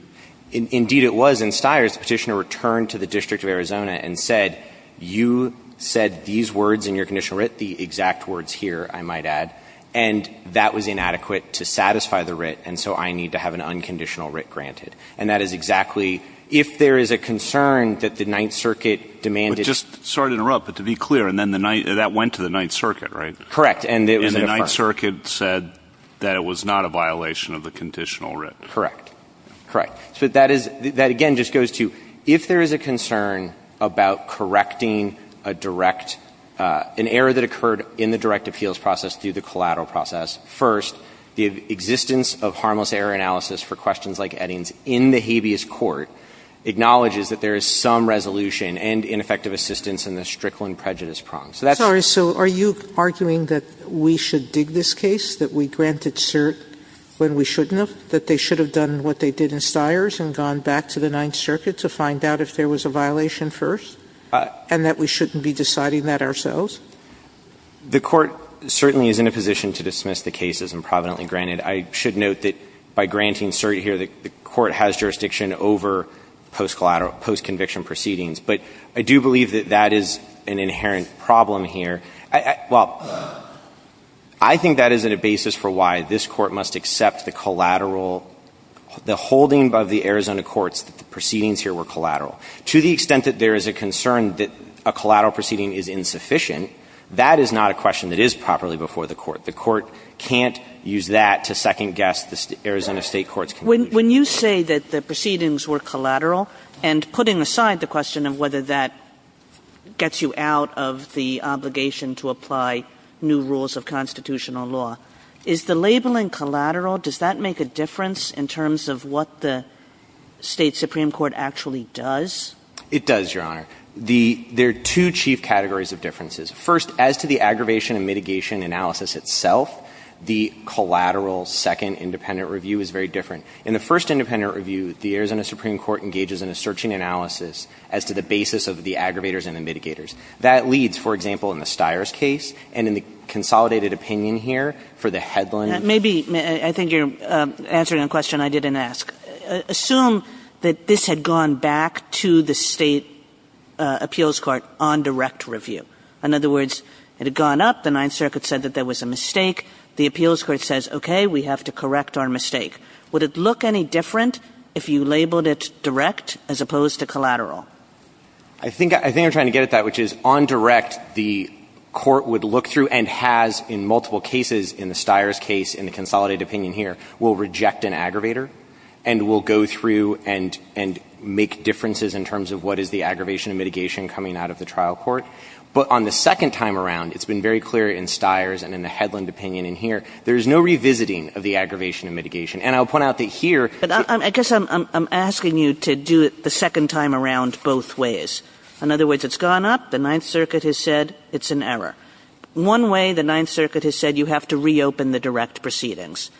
Indeed, it was in Stiers. Petitioner returned to the District of Arizona and said, you said these words in your conditional writ, the exact words here, I might add, and that was inadequate to satisfy the writ, and so I need to have an unconditional writ granted. And that is exactly, if there is a concern that the Ninth Circuit demanded. But just, sorry to interrupt, but to be clear, and then the Ninth, that went to the Ninth Circuit, right? Correct. And the Ninth Circuit said that it was not a violation of the conditional writ. Correct. Correct. So that is, that again just goes to, if there is a concern about correcting a direct, an error that occurred in the direct appeals process through the collateral process, first, the existence of harmless error analysis for questions like Eddings in the habeas court acknowledges that there is some resolution and ineffective assistance in the Strickland prejudice prong. So that's. Sotomayor So are you arguing that we should dig this case, that we granted cert when we shouldn't have, that they should have done what they did in Stiers and gone back to the Ninth Circuit to find out if there was a violation first, and that we shouldn't be deciding that ourselves? granted. I should note that by granting cert here, the court has jurisdiction over post-collateral, post-conviction proceedings. But I do believe that that is an inherent problem here. I, well, I think that is a basis for why this court must accept the collateral, the holding of the Arizona courts that the proceedings here were collateral. To the extent that there is a concern that a collateral proceeding is insufficient, that is not a question that is properly before the court. The court can't use that to second-guess the Arizona State courts. When you say that the proceedings were collateral, and putting aside the question of whether that gets you out of the obligation to apply new rules of constitutional law, is the labeling collateral, does that make a difference in terms of what the State Supreme Court actually does? It does, Your Honor. There are two chief categories of differences. First, as to the aggravation and mitigation analysis itself, the collateral second independent review is very different. In the first independent review, the Arizona Supreme Court engages in a searching analysis as to the basis of the aggravators and the mitigators. That leads, for example, in the Stires case and in the consolidated opinion here for the Headland. Maybe, I think you're answering a question I didn't ask. Assume that this had gone back to the State appeals court on direct review. In other words, it had gone up. The Ninth Circuit said that there was a mistake. The appeals court says, okay, we have to correct our mistake. Would it look any different if you labeled it direct as opposed to collateral? I think I'm trying to get at that, which is on direct, the court would look through and has in multiple cases, in the Stires case, in the consolidated opinion here, will reject an aggravator and will go through and make differences in terms of what is the aggravation and mitigation coming out of the trial court. But on the second time around, it's been very clear in Stires and in the Headland opinion in here, there's no revisiting of the aggravation and mitigation. And I'll point out that here. Kagan. I guess I'm asking you to do it the second time around both ways. In other words, it's gone up. The Ninth Circuit has said it's an error. One way the Ninth Circuit has said you have to reopen the direct proceedings.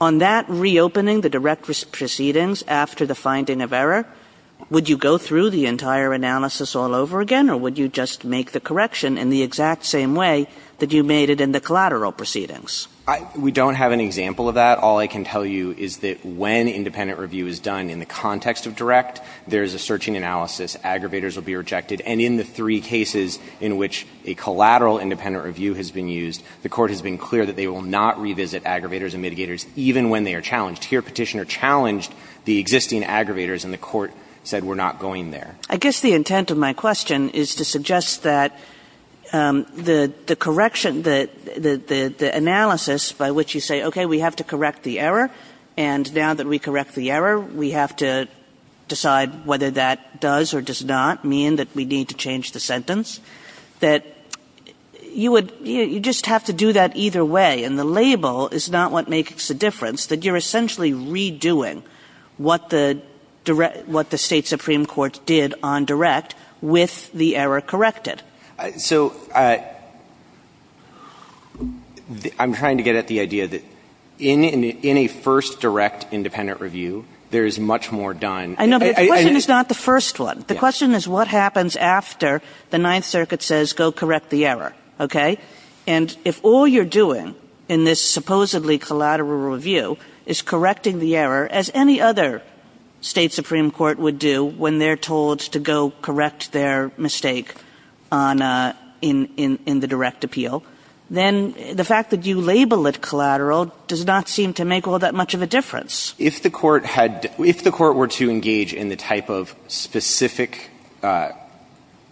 On that reopening the direct proceedings after the finding of error, would you go through the entire analysis all over again? Or would you just make the correction in the exact same way that you made it in the collateral proceedings? We don't have an example of that. All I can tell you is that when independent review is done in the context of direct, there is a searching analysis. Aggravators will be rejected. And in the three cases in which a collateral independent review has been used, the Court has been clear that they will not revisit aggravators and mitigators even when they are challenged. Here Petitioner challenged the existing aggravators, and the Court said we're not going there. I guess the intent of my question is to suggest that the correction, the analysis by which you say, okay, we have to correct the error, and now that we correct the error, we have to decide whether that does or does not mean that we need to change the sentence, that you would, you just have to do that either way. And the label is not what makes a difference. That you're essentially redoing what the State Supreme Court did on direct with the error corrected. So I'm trying to get at the idea that in a first direct independent review, there is much more done. I know, but the question is not the first one. The question is what happens after the Ninth Circuit says go correct the error. Okay? And if all you're doing in this supposedly collateral review is correcting the error as any other State Supreme Court would do when they're told to go correct their mistake in the direct appeal, then the fact that you label it collateral does not seem to make all that much of a difference. If the Court had, if the Court were to engage in the type of specific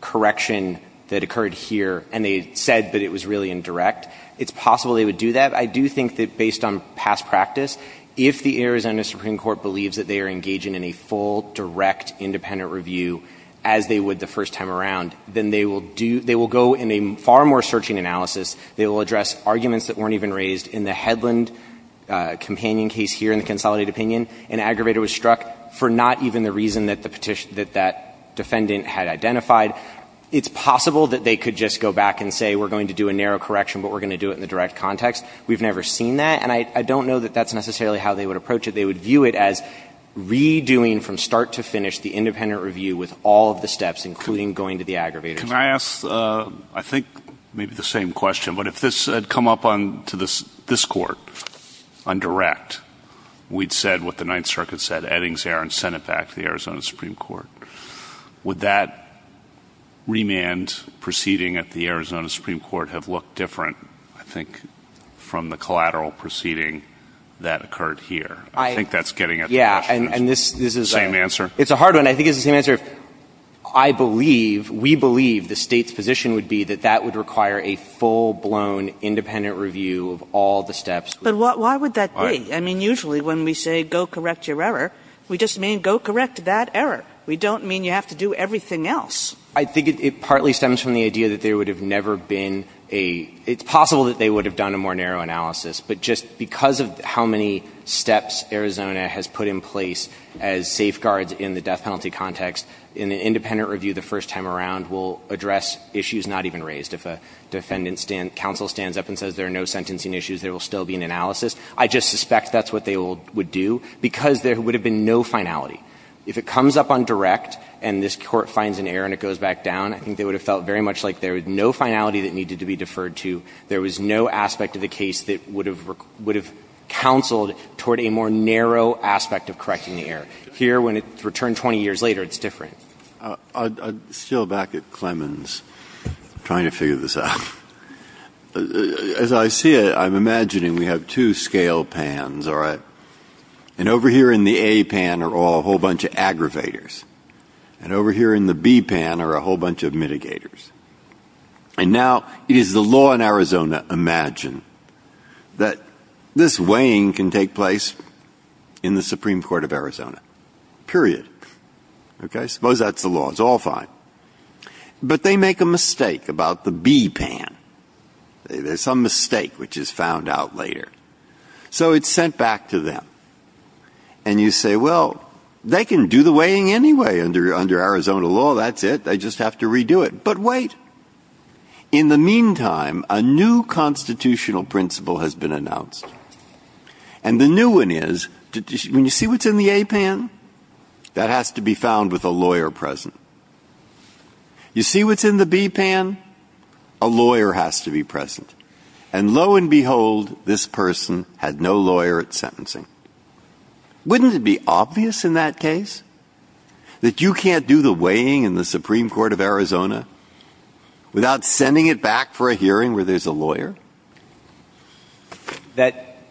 correction that occurred here and they said that it was really indirect, it's possible they would do that. I do think that based on past practice, if the Arizona Supreme Court believes that they are engaging in a full direct independent review as they would the first time around, then they will do, they will go in a far more searching analysis. They will address arguments that weren't even raised in the Headland companion case here in the consolidated opinion. An aggravator was struck for not even the reason that the petition, that that defendant had identified. It's possible that they could just go back and say, we're going to do a narrow correction, but we're going to do it in the direct context. We've never seen that. And I don't know that that's necessarily how they would approach it. They would view it as redoing from start to finish the independent review with all of the steps, including going to the aggravator. Scalia. Can I ask, I think, maybe the same question, but if this had come up on, to this Court, on direct, we'd said what the Ninth Circuit said. Eddings, Aaron, sent it back to the Arizona Supreme Court. Would that remand proceeding at the Arizona Supreme Court have looked different, I think, from the collateral proceeding that occurred here? I think that's getting at the question. Same answer? It's a hard one. I think it's the same answer. I believe, we believe the State's position would be that that would require a full-blown independent review of all the steps. But why would that be? I mean, usually when we say go correct your error, we just mean go correct that error. We don't mean you have to do everything else. I think it partly stems from the idea that there would have never been a – it's possible that they would have done a more narrow analysis. But just because of how many steps Arizona has put in place as safeguards in the death penalty context, an independent review the first time around will address issues not even raised. If a defendant's counsel stands up and says there are no sentencing issues, there will still be an analysis. I just suspect that's what they would do, because there would have been no finality. If it comes up on direct and this Court finds an error and it goes back down, I think they would have felt very much like there was no finality that needed to be deferred to. There was no aspect of the case that would have counseled toward a more narrow aspect of correcting the error. Here, when it's returned 20 years later, it's different. I'm still back at Clemens trying to figure this out. As I see it, I'm imagining we have two scale pans, all right? And over here in the A pan are all a whole bunch of aggravators. And over here in the B pan are a whole bunch of mitigators. And now it is the law in Arizona, imagine, that this weighing can take place in the Supreme Court of Arizona, period. Okay? Suppose that's the law. It's all fine. But they make a mistake about the B pan. There's some mistake which is found out later. So it's sent back to them. And you say, well, they can do the weighing anyway under Arizona law. That's it. They just have to redo it. But wait. In the meantime, a new constitutional principle has been announced. And the new one is, when you see what's in the A pan, that has to be found with a lawyer present. You see what's in the B pan? A lawyer has to be present. And lo and behold, this person had no lawyer at sentencing. Wouldn't it be obvious in that case that you can't do the weighing in the Supreme Court of Arizona without sending it back for a hearing where there's a lawyer?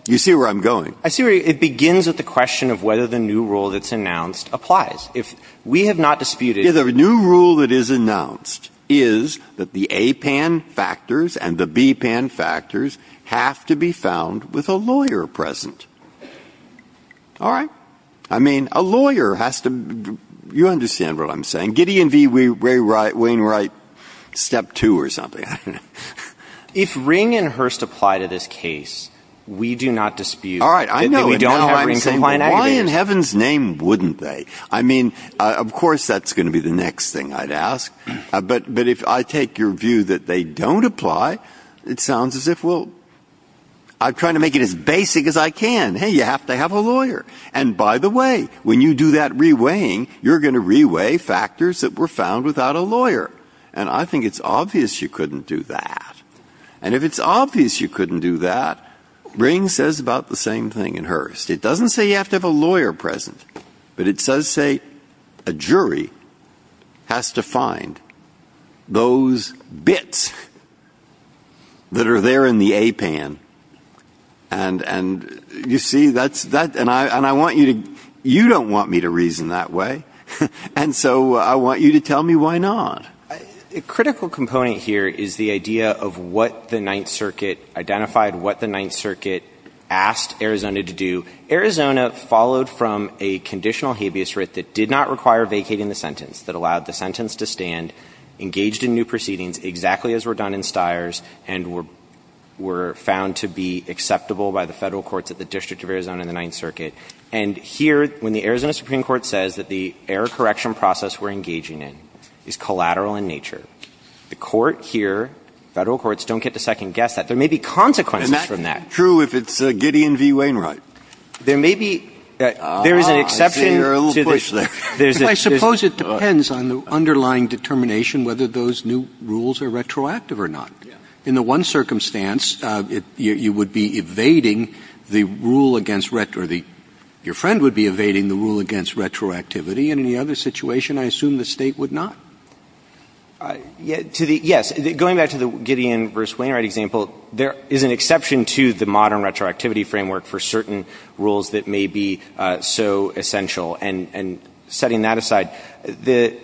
You see where I'm going? I see where you're going. It begins with the question of whether the new rule that's announced applies. If we have not disputed the new rule that is announced is that the A pan factors and the B pan factors have to be found with a lawyer present. All right. I mean, a lawyer has to you understand what I'm saying. Gideon V. Wainwright, step two or something. If Ring and Hurst apply to this case, we do not dispute. All right. I know. Why in heaven's name wouldn't they? I mean, of course, that's going to be the next thing I'd ask. But if I take your view that they don't apply, it sounds as if, well, I'm trying to make it as basic as I can. Hey, you have to have a lawyer. And by the way, when you do that reweighing, you're going to reweigh factors that were found without a lawyer. And I think it's obvious you couldn't do that. And if it's obvious you couldn't do that, Ring says about the same thing in Hurst. It doesn't say you have to have a lawyer present. But it does say a jury has to find those bits that are there in the APAN. And you see, that's that. And I want you to you don't want me to reason that way. And so I want you to tell me why not. A critical component here is the idea of what the Ninth Circuit identified, what the Ninth Circuit asked Arizona to do. Arizona followed from a conditional habeas writ that did not require vacating the sentence, that allowed the sentence to stand, engaged in new proceedings exactly as were done in Stiers, and were found to be acceptable by the Federal courts at the District of Arizona in the Ninth Circuit. And here, when the Arizona Supreme Court says that the error correction process we're engaging in is collateral in nature, the Court here, Federal courts, don't get to second-guess that. There may be consequences from that. And that's true if it's Gideon v. Wainwright. There may be. There is an exception. Ah, I see your little push there. I suppose it depends on the underlying determination whether those new rules are retroactive or not. In the one circumstance, you would be evading the rule against or your friend would be evading the rule against retroactivity. And in the other situation, I assume the State would not. Yes. Going back to the Gideon v. Wainwright example, there is an exception to the modern retroactivity framework for certain rules that may be so essential. And setting that aside, there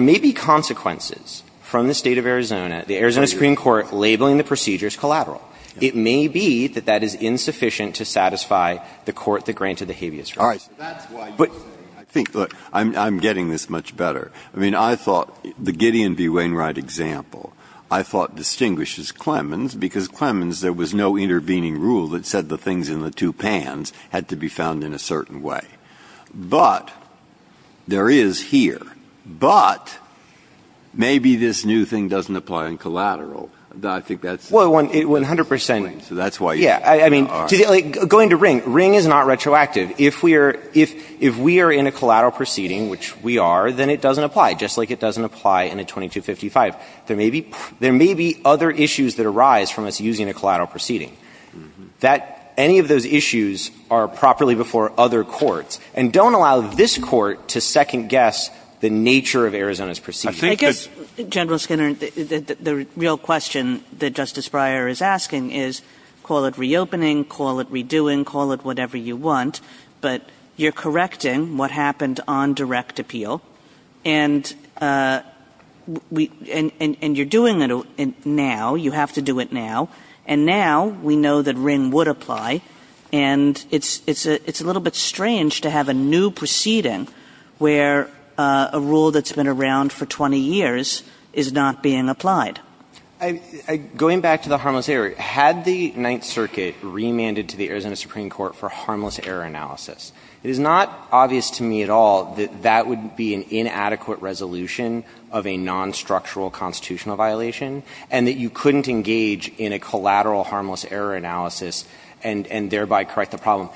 may be consequences from the State of Arizona, the Arizona Supreme Court, labeling the procedures collateral. It may be that that is insufficient to satisfy the court that granted the habeas recourse. Breyer, I think, look, I'm getting this much better. I mean, I thought the Gideon v. Wainwright example, I thought, distinguishes Clemens because Clemens, there was no intervening rule that said the things in the two pans had to be found in a certain way. But there is here. But maybe this new thing doesn't apply in collateral. I think that's the point. Well, 100 percent. Yeah. I mean, going to Ring, Ring is not retroactive. If we are in a collateral proceeding, which we are, then it doesn't apply, just like it doesn't apply in a 2255. There may be other issues that arise from us using a collateral proceeding. That any of those issues are properly before other courts. And don't allow this Court to second-guess the nature of Arizona's proceedings. I guess, General Skinner, the real question that Justice Breyer is asking is call it reopening, call it redoing, call it whatever you want, but you're correcting what happened on direct appeal. And you're doing it now. You have to do it now. And now we know that Ring would apply. And it's a little bit strange to have a new proceeding where a rule that's been around for 20 years is not being applied. Going back to the harmless error, had the Ninth Circuit remanded to the Arizona Supreme Court for harmless error analysis, it is not obvious to me at all that that would be an inadequate resolution of a non-structural constitutional violation, and that you couldn't engage in a collateral harmless error analysis and thereby correct the problem.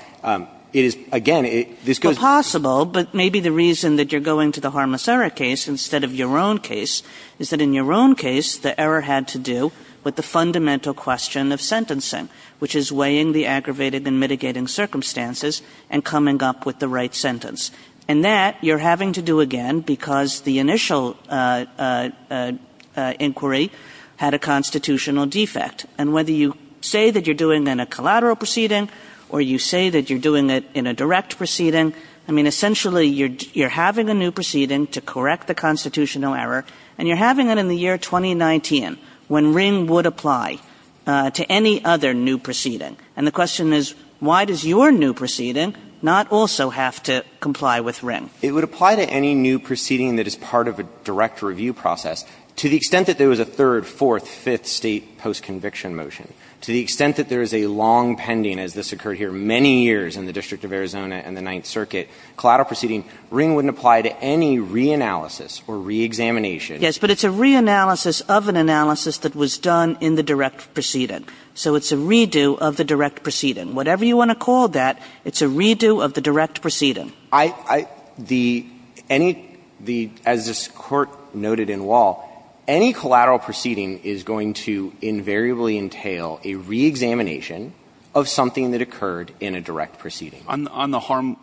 It is, again, this goes to the Supreme Court. Well, possible, but maybe the reason that you're going to the harmless error case instead of your own case is that in your own case, the error had to do with the fundamental question of sentencing, which is weighing the aggravated and mitigating circumstances and coming up with the right sentence. And that you're having to do again because the initial inquiry had a constitutional defect. And whether you say that you're doing it in a collateral proceeding or you say that you're doing it in a direct proceeding, I mean, essentially, you're having a new constitutional error. And you're having it in the year 2019 when Ring would apply to any other new proceeding. And the question is, why does your new proceeding not also have to comply with Ring? It would apply to any new proceeding that is part of a direct review process. To the extent that there was a third, fourth, fifth State post-conviction motion, to the extent that there is a long pending, as this occurred here many years in the District of Arizona and the Ninth Circuit, collateral proceeding, Ring wouldn't apply to any reanalysis or reexamination. Kagan. Yes, but it's a reanalysis of an analysis that was done in the direct proceeding. So it's a redo of the direct proceeding. Whatever you want to call that, it's a redo of the direct proceeding. I, I, the, any, the, as this Court noted in Wall, any collateral proceeding is going to invariably entail a reexamination of something that occurred in a direct proceeding. On the harm,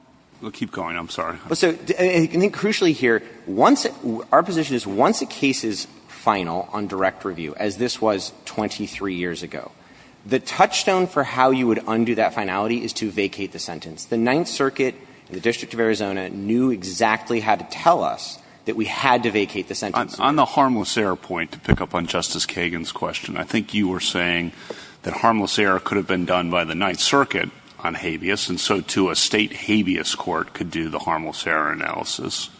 keep going, I'm sorry. Well, so, and I think crucially here, once, our position is once a case is final on direct review, as this was 23 years ago, the touchstone for how you would undo that finality is to vacate the sentence. The Ninth Circuit and the District of Arizona knew exactly how to tell us that we had to vacate the sentence. On the harmless error point, to pick up on Justice Kagan's question, I think you were saying that harmless error could have been done by the Ninth Circuit on habeas, and so, too, a State habeas court could do the harmless error analysis.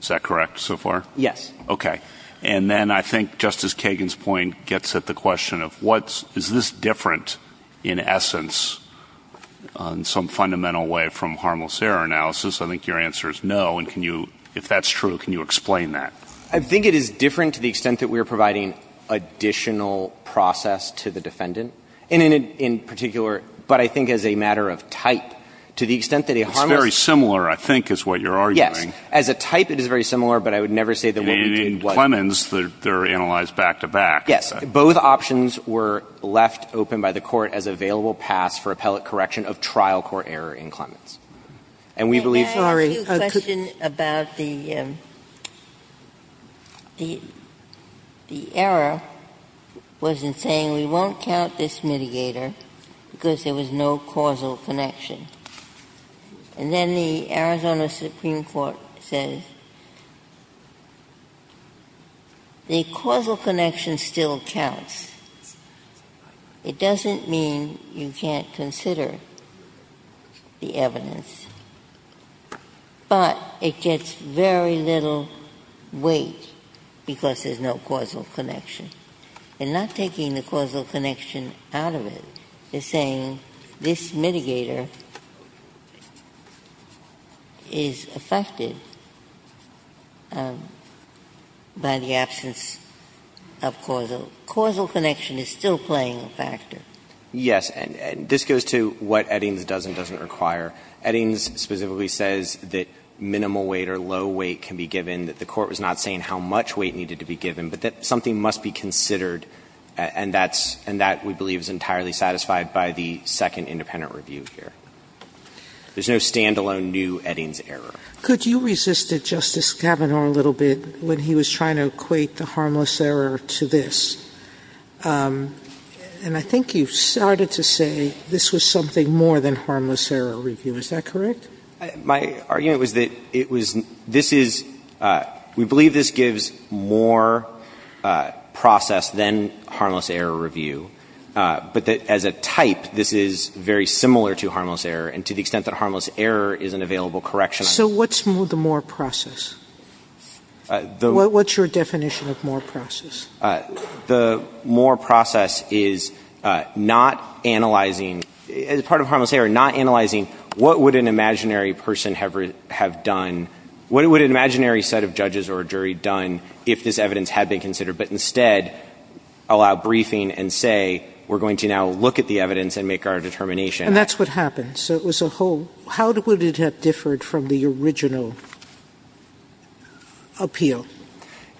Is that correct so far? Yes. Okay. And then I think Justice Kagan's point gets at the question of what's, is this different in essence on some fundamental way from harmless error analysis? I think your answer is no, and can you, if that's true, can you explain that? I think it is different to the extent that we are providing additional process to the extent that a harmless error analysis is a type. It's very similar, I think, is what you're arguing. Yes. As a type, it is very similar, but I would never say that what we did was. In Clemens, they're analyzed back-to-back. Yes. Both options were left open by the Court as available paths for appellate correction of trial court error in Clemens. And we believe. Can I ask you a question about the error was in saying we won't count this mitigator because there was no causal connection. And then the Arizona Supreme Court says the causal connection still counts. It doesn't mean you can't consider the evidence, but it gets very little weight because there's no causal connection. And not taking the causal connection out of it is saying this mitigator is affected by the absence of causal. Causal connection is still playing a factor. Yes. And this goes to what Eddings does and doesn't require. Eddings specifically says that minimal weight or low weight can be given, that the And that, we believe, is entirely satisfied by the second independent review here. There's no stand-alone new Eddings error. Could you resist it, Justice Kavanaugh, a little bit when he was trying to equate the harmless error to this? And I think you started to say this was something more than harmless error review. Is that correct? My argument was that it was, this is, we believe this gives more process than harmless error review, but that as a type, this is very similar to harmless error and to the extent that harmless error is an available correction. So what's the more process? What's your definition of more process? The more process is not analyzing, as part of harmless error, not analyzing what would an imaginary person have done, what would an imaginary set of judges or jury done if this evidence had been considered, but instead allow briefing and say we're going to now look at the evidence and make our determination. And that's what happened. So it was a whole, how would it have differed from the original appeal?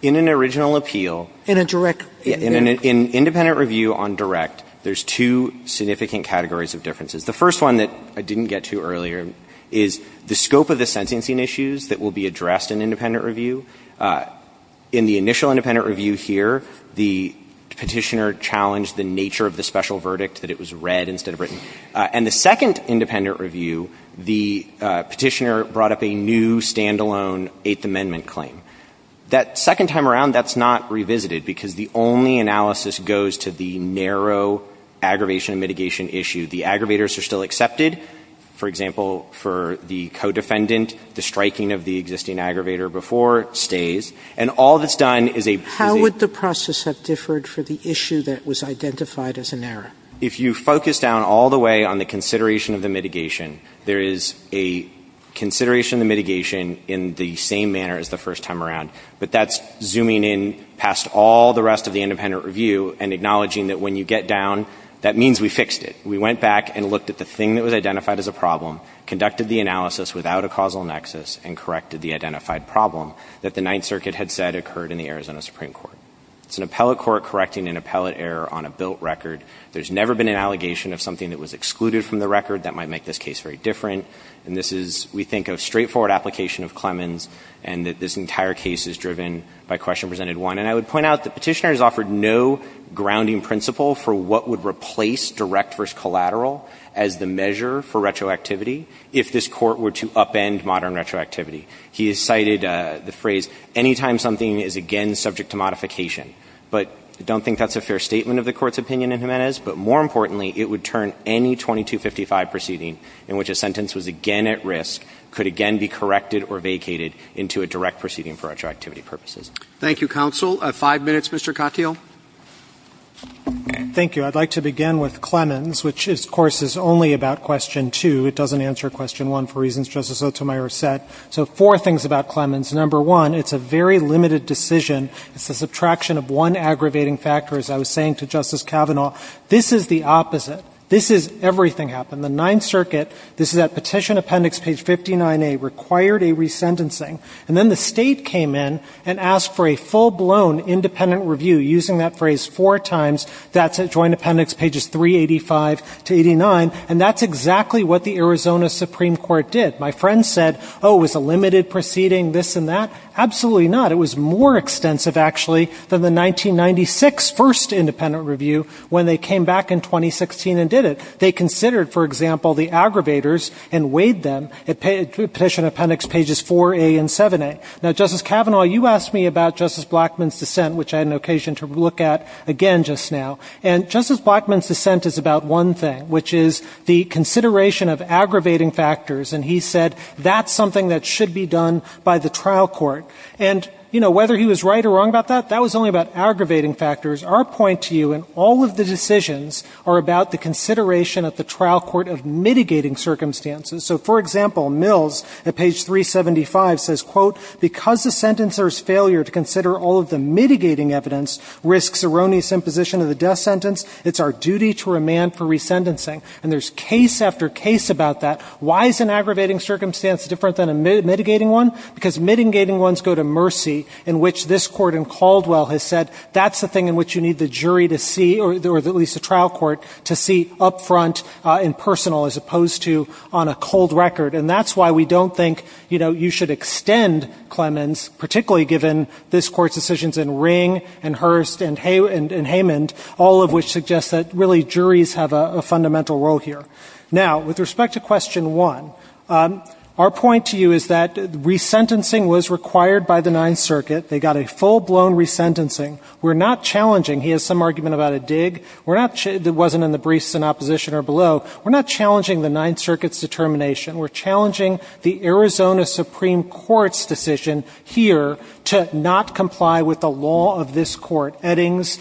In an original appeal. In a direct. In an independent review on direct, there's two significant categories of differences. The first one that I didn't get to earlier is the scope of the sentencing issues that will be addressed in independent review. In the initial independent review here, the petitioner challenged the nature of the special verdict, that it was read instead of written. And the second independent review, the petitioner brought up a new stand-alone Eighth Amendment claim. That second time around, that's not revisited because the only analysis goes to the narrow aggravation and mitigation issue. The aggravators are still accepted. For example, for the co-defendant, the striking of the existing aggravator before stays. And all that's done is a. How would the process have differed for the issue that was identified as an error? If you focus down all the way on the consideration of the mitigation, there is a consideration of the mitigation in the same manner as the first time around. But that's zooming in past all the rest of the independent review and acknowledging that when you get down, that means we fixed it. We went back and looked at the thing that was identified as a problem, conducted the analysis without a causal nexus, and corrected the identified problem that the Ninth Circuit had said occurred in the Arizona Supreme Court. It's an appellate court correcting an appellate error on a built record. There's never been an allegation of something that was excluded from the record that might make this case very different. And this is, we think, a straightforward application of Clemens, and that this entire case is driven by Question Presented 1. And I would point out the petitioner has offered no grounding principle for what would replace direct versus collateral as the measure for retroactivity if this Court were to upend modern retroactivity. He has cited the phrase, anytime something is again subject to modification. But I don't think that's a fair statement of the Court's opinion in Jimenez. But more importantly, it would turn any 2255 proceeding in which a sentence was again at risk could again be corrected or vacated into a direct proceeding for retroactivity purposes. Thank you, counsel. Five minutes, Mr. Katyal. Thank you. I'd like to begin with Clemens, which, of course, is only about Question 2. It doesn't answer Question 1 for reasons Justice Sotomayor said. So four things about Clemens. Number one, it's a very limited decision. It's a subtraction of one aggravating factor, as I was saying to Justice Kavanaugh. This is the opposite. This is everything happened. The Ninth Circuit, this is at Petition Appendix Page 59A, required a resentencing. And then the State came in and asked for a full-blown independent review, using that phrase four times. That's at Joint Appendix Pages 385 to 89. And that's exactly what the Arizona Supreme Court did. My friend said, oh, was a limited proceeding this and that? Absolutely not. It was more extensive, actually, than the 1996 first independent review, when they came back in 2016 and did it. They considered, for example, the aggravators and weighed them at Petition Appendix Pages 4A and 7A. Now, Justice Kavanaugh, you asked me about Justice Blackmun's dissent, which I had an occasion to look at again just now. And Justice Blackmun's dissent is about one thing, which is the consideration of aggravating factors. And he said that's something that should be done by the trial court. And, you know, whether he was right or wrong about that, that was only about aggravating factors. Our point to you in all of the decisions are about the consideration at the trial court of mitigating circumstances. So, for example, Mills at Page 375 says, quote, because the sentencer's failure to consider all of the mitigating evidence risks erroneous imposition of the death sentence, it's our duty to remand for resentencing. And there's case after case about that. Why is an aggravating circumstance different than a mitigating one? Because mitigating ones go to mercy, in which this Court in Caldwell has said that's the thing in which you need the jury to see, or at least the trial court, to see up front and personal as opposed to on a cold record. And that's why we don't think, you know, you should extend Clemens, particularly given this Court's decisions in Ring and Hurst and Haymond, all of which suggest that really juries have a fundamental role here. Now, with respect to question one, our point to you is that resentencing was required by the Ninth Circuit. They got a full-blown resentencing. We're not challenging. He has some argument about a dig. It wasn't in the briefs in opposition or below. We're not challenging the Ninth Circuit's determination. We're challenging the Arizona Supreme Court's decision here to not comply with the law of this Court, Eddings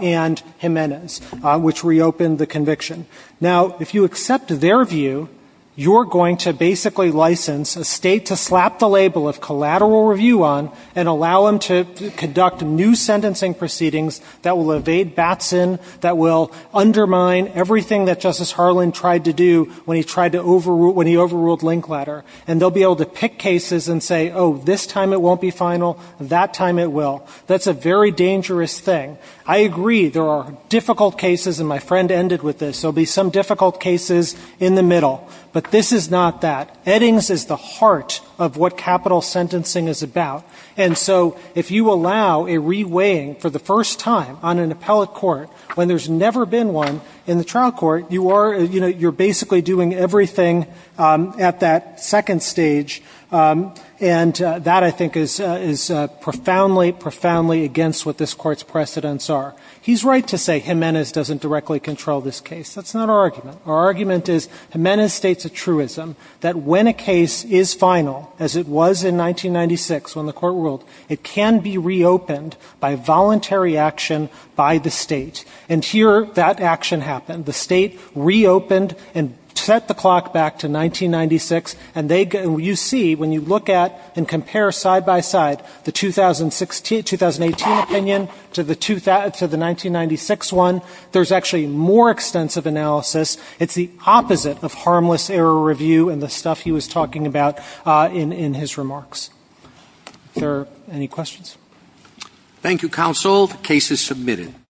and Jimenez, which reopened the conviction. Now, if you accept their view, you're going to basically license a state to slap the label of collateral review on and allow them to conduct new sentencing proceedings that will evade Batson, that will undermine everything that Justice Harlan tried to do when he overruled Linkletter. And they'll be able to pick cases and say, oh, this time it won't be final, that time it will. That's a very dangerous thing. I agree there are difficult cases, and my friend ended with this, there will be some difficult cases in the middle. But this is not that. Eddings is the heart of what capital sentencing is about. And so if you allow a reweighing for the first time on an appellate court when there's never been one in the trial court, you're basically doing everything at that second stage, and that I think is profoundly, profoundly against what this Court's precedents are. He's right to say Jimenez doesn't directly control this case. That's not our argument. Our argument is Jimenez states a truism that when a case is final, as it was in 1996 when the court ruled, it can be reopened by voluntary action by the state. And here that action happened. The state reopened and set the clock back to 1996, and you see when you look at and compare side by side the 2018 opinion to the 1996 one, there's actually more extensive analysis. It's the opposite of harmless error review and the stuff he was talking about in his remarks. Are there any questions? Thank you, counsel. The case is submitted.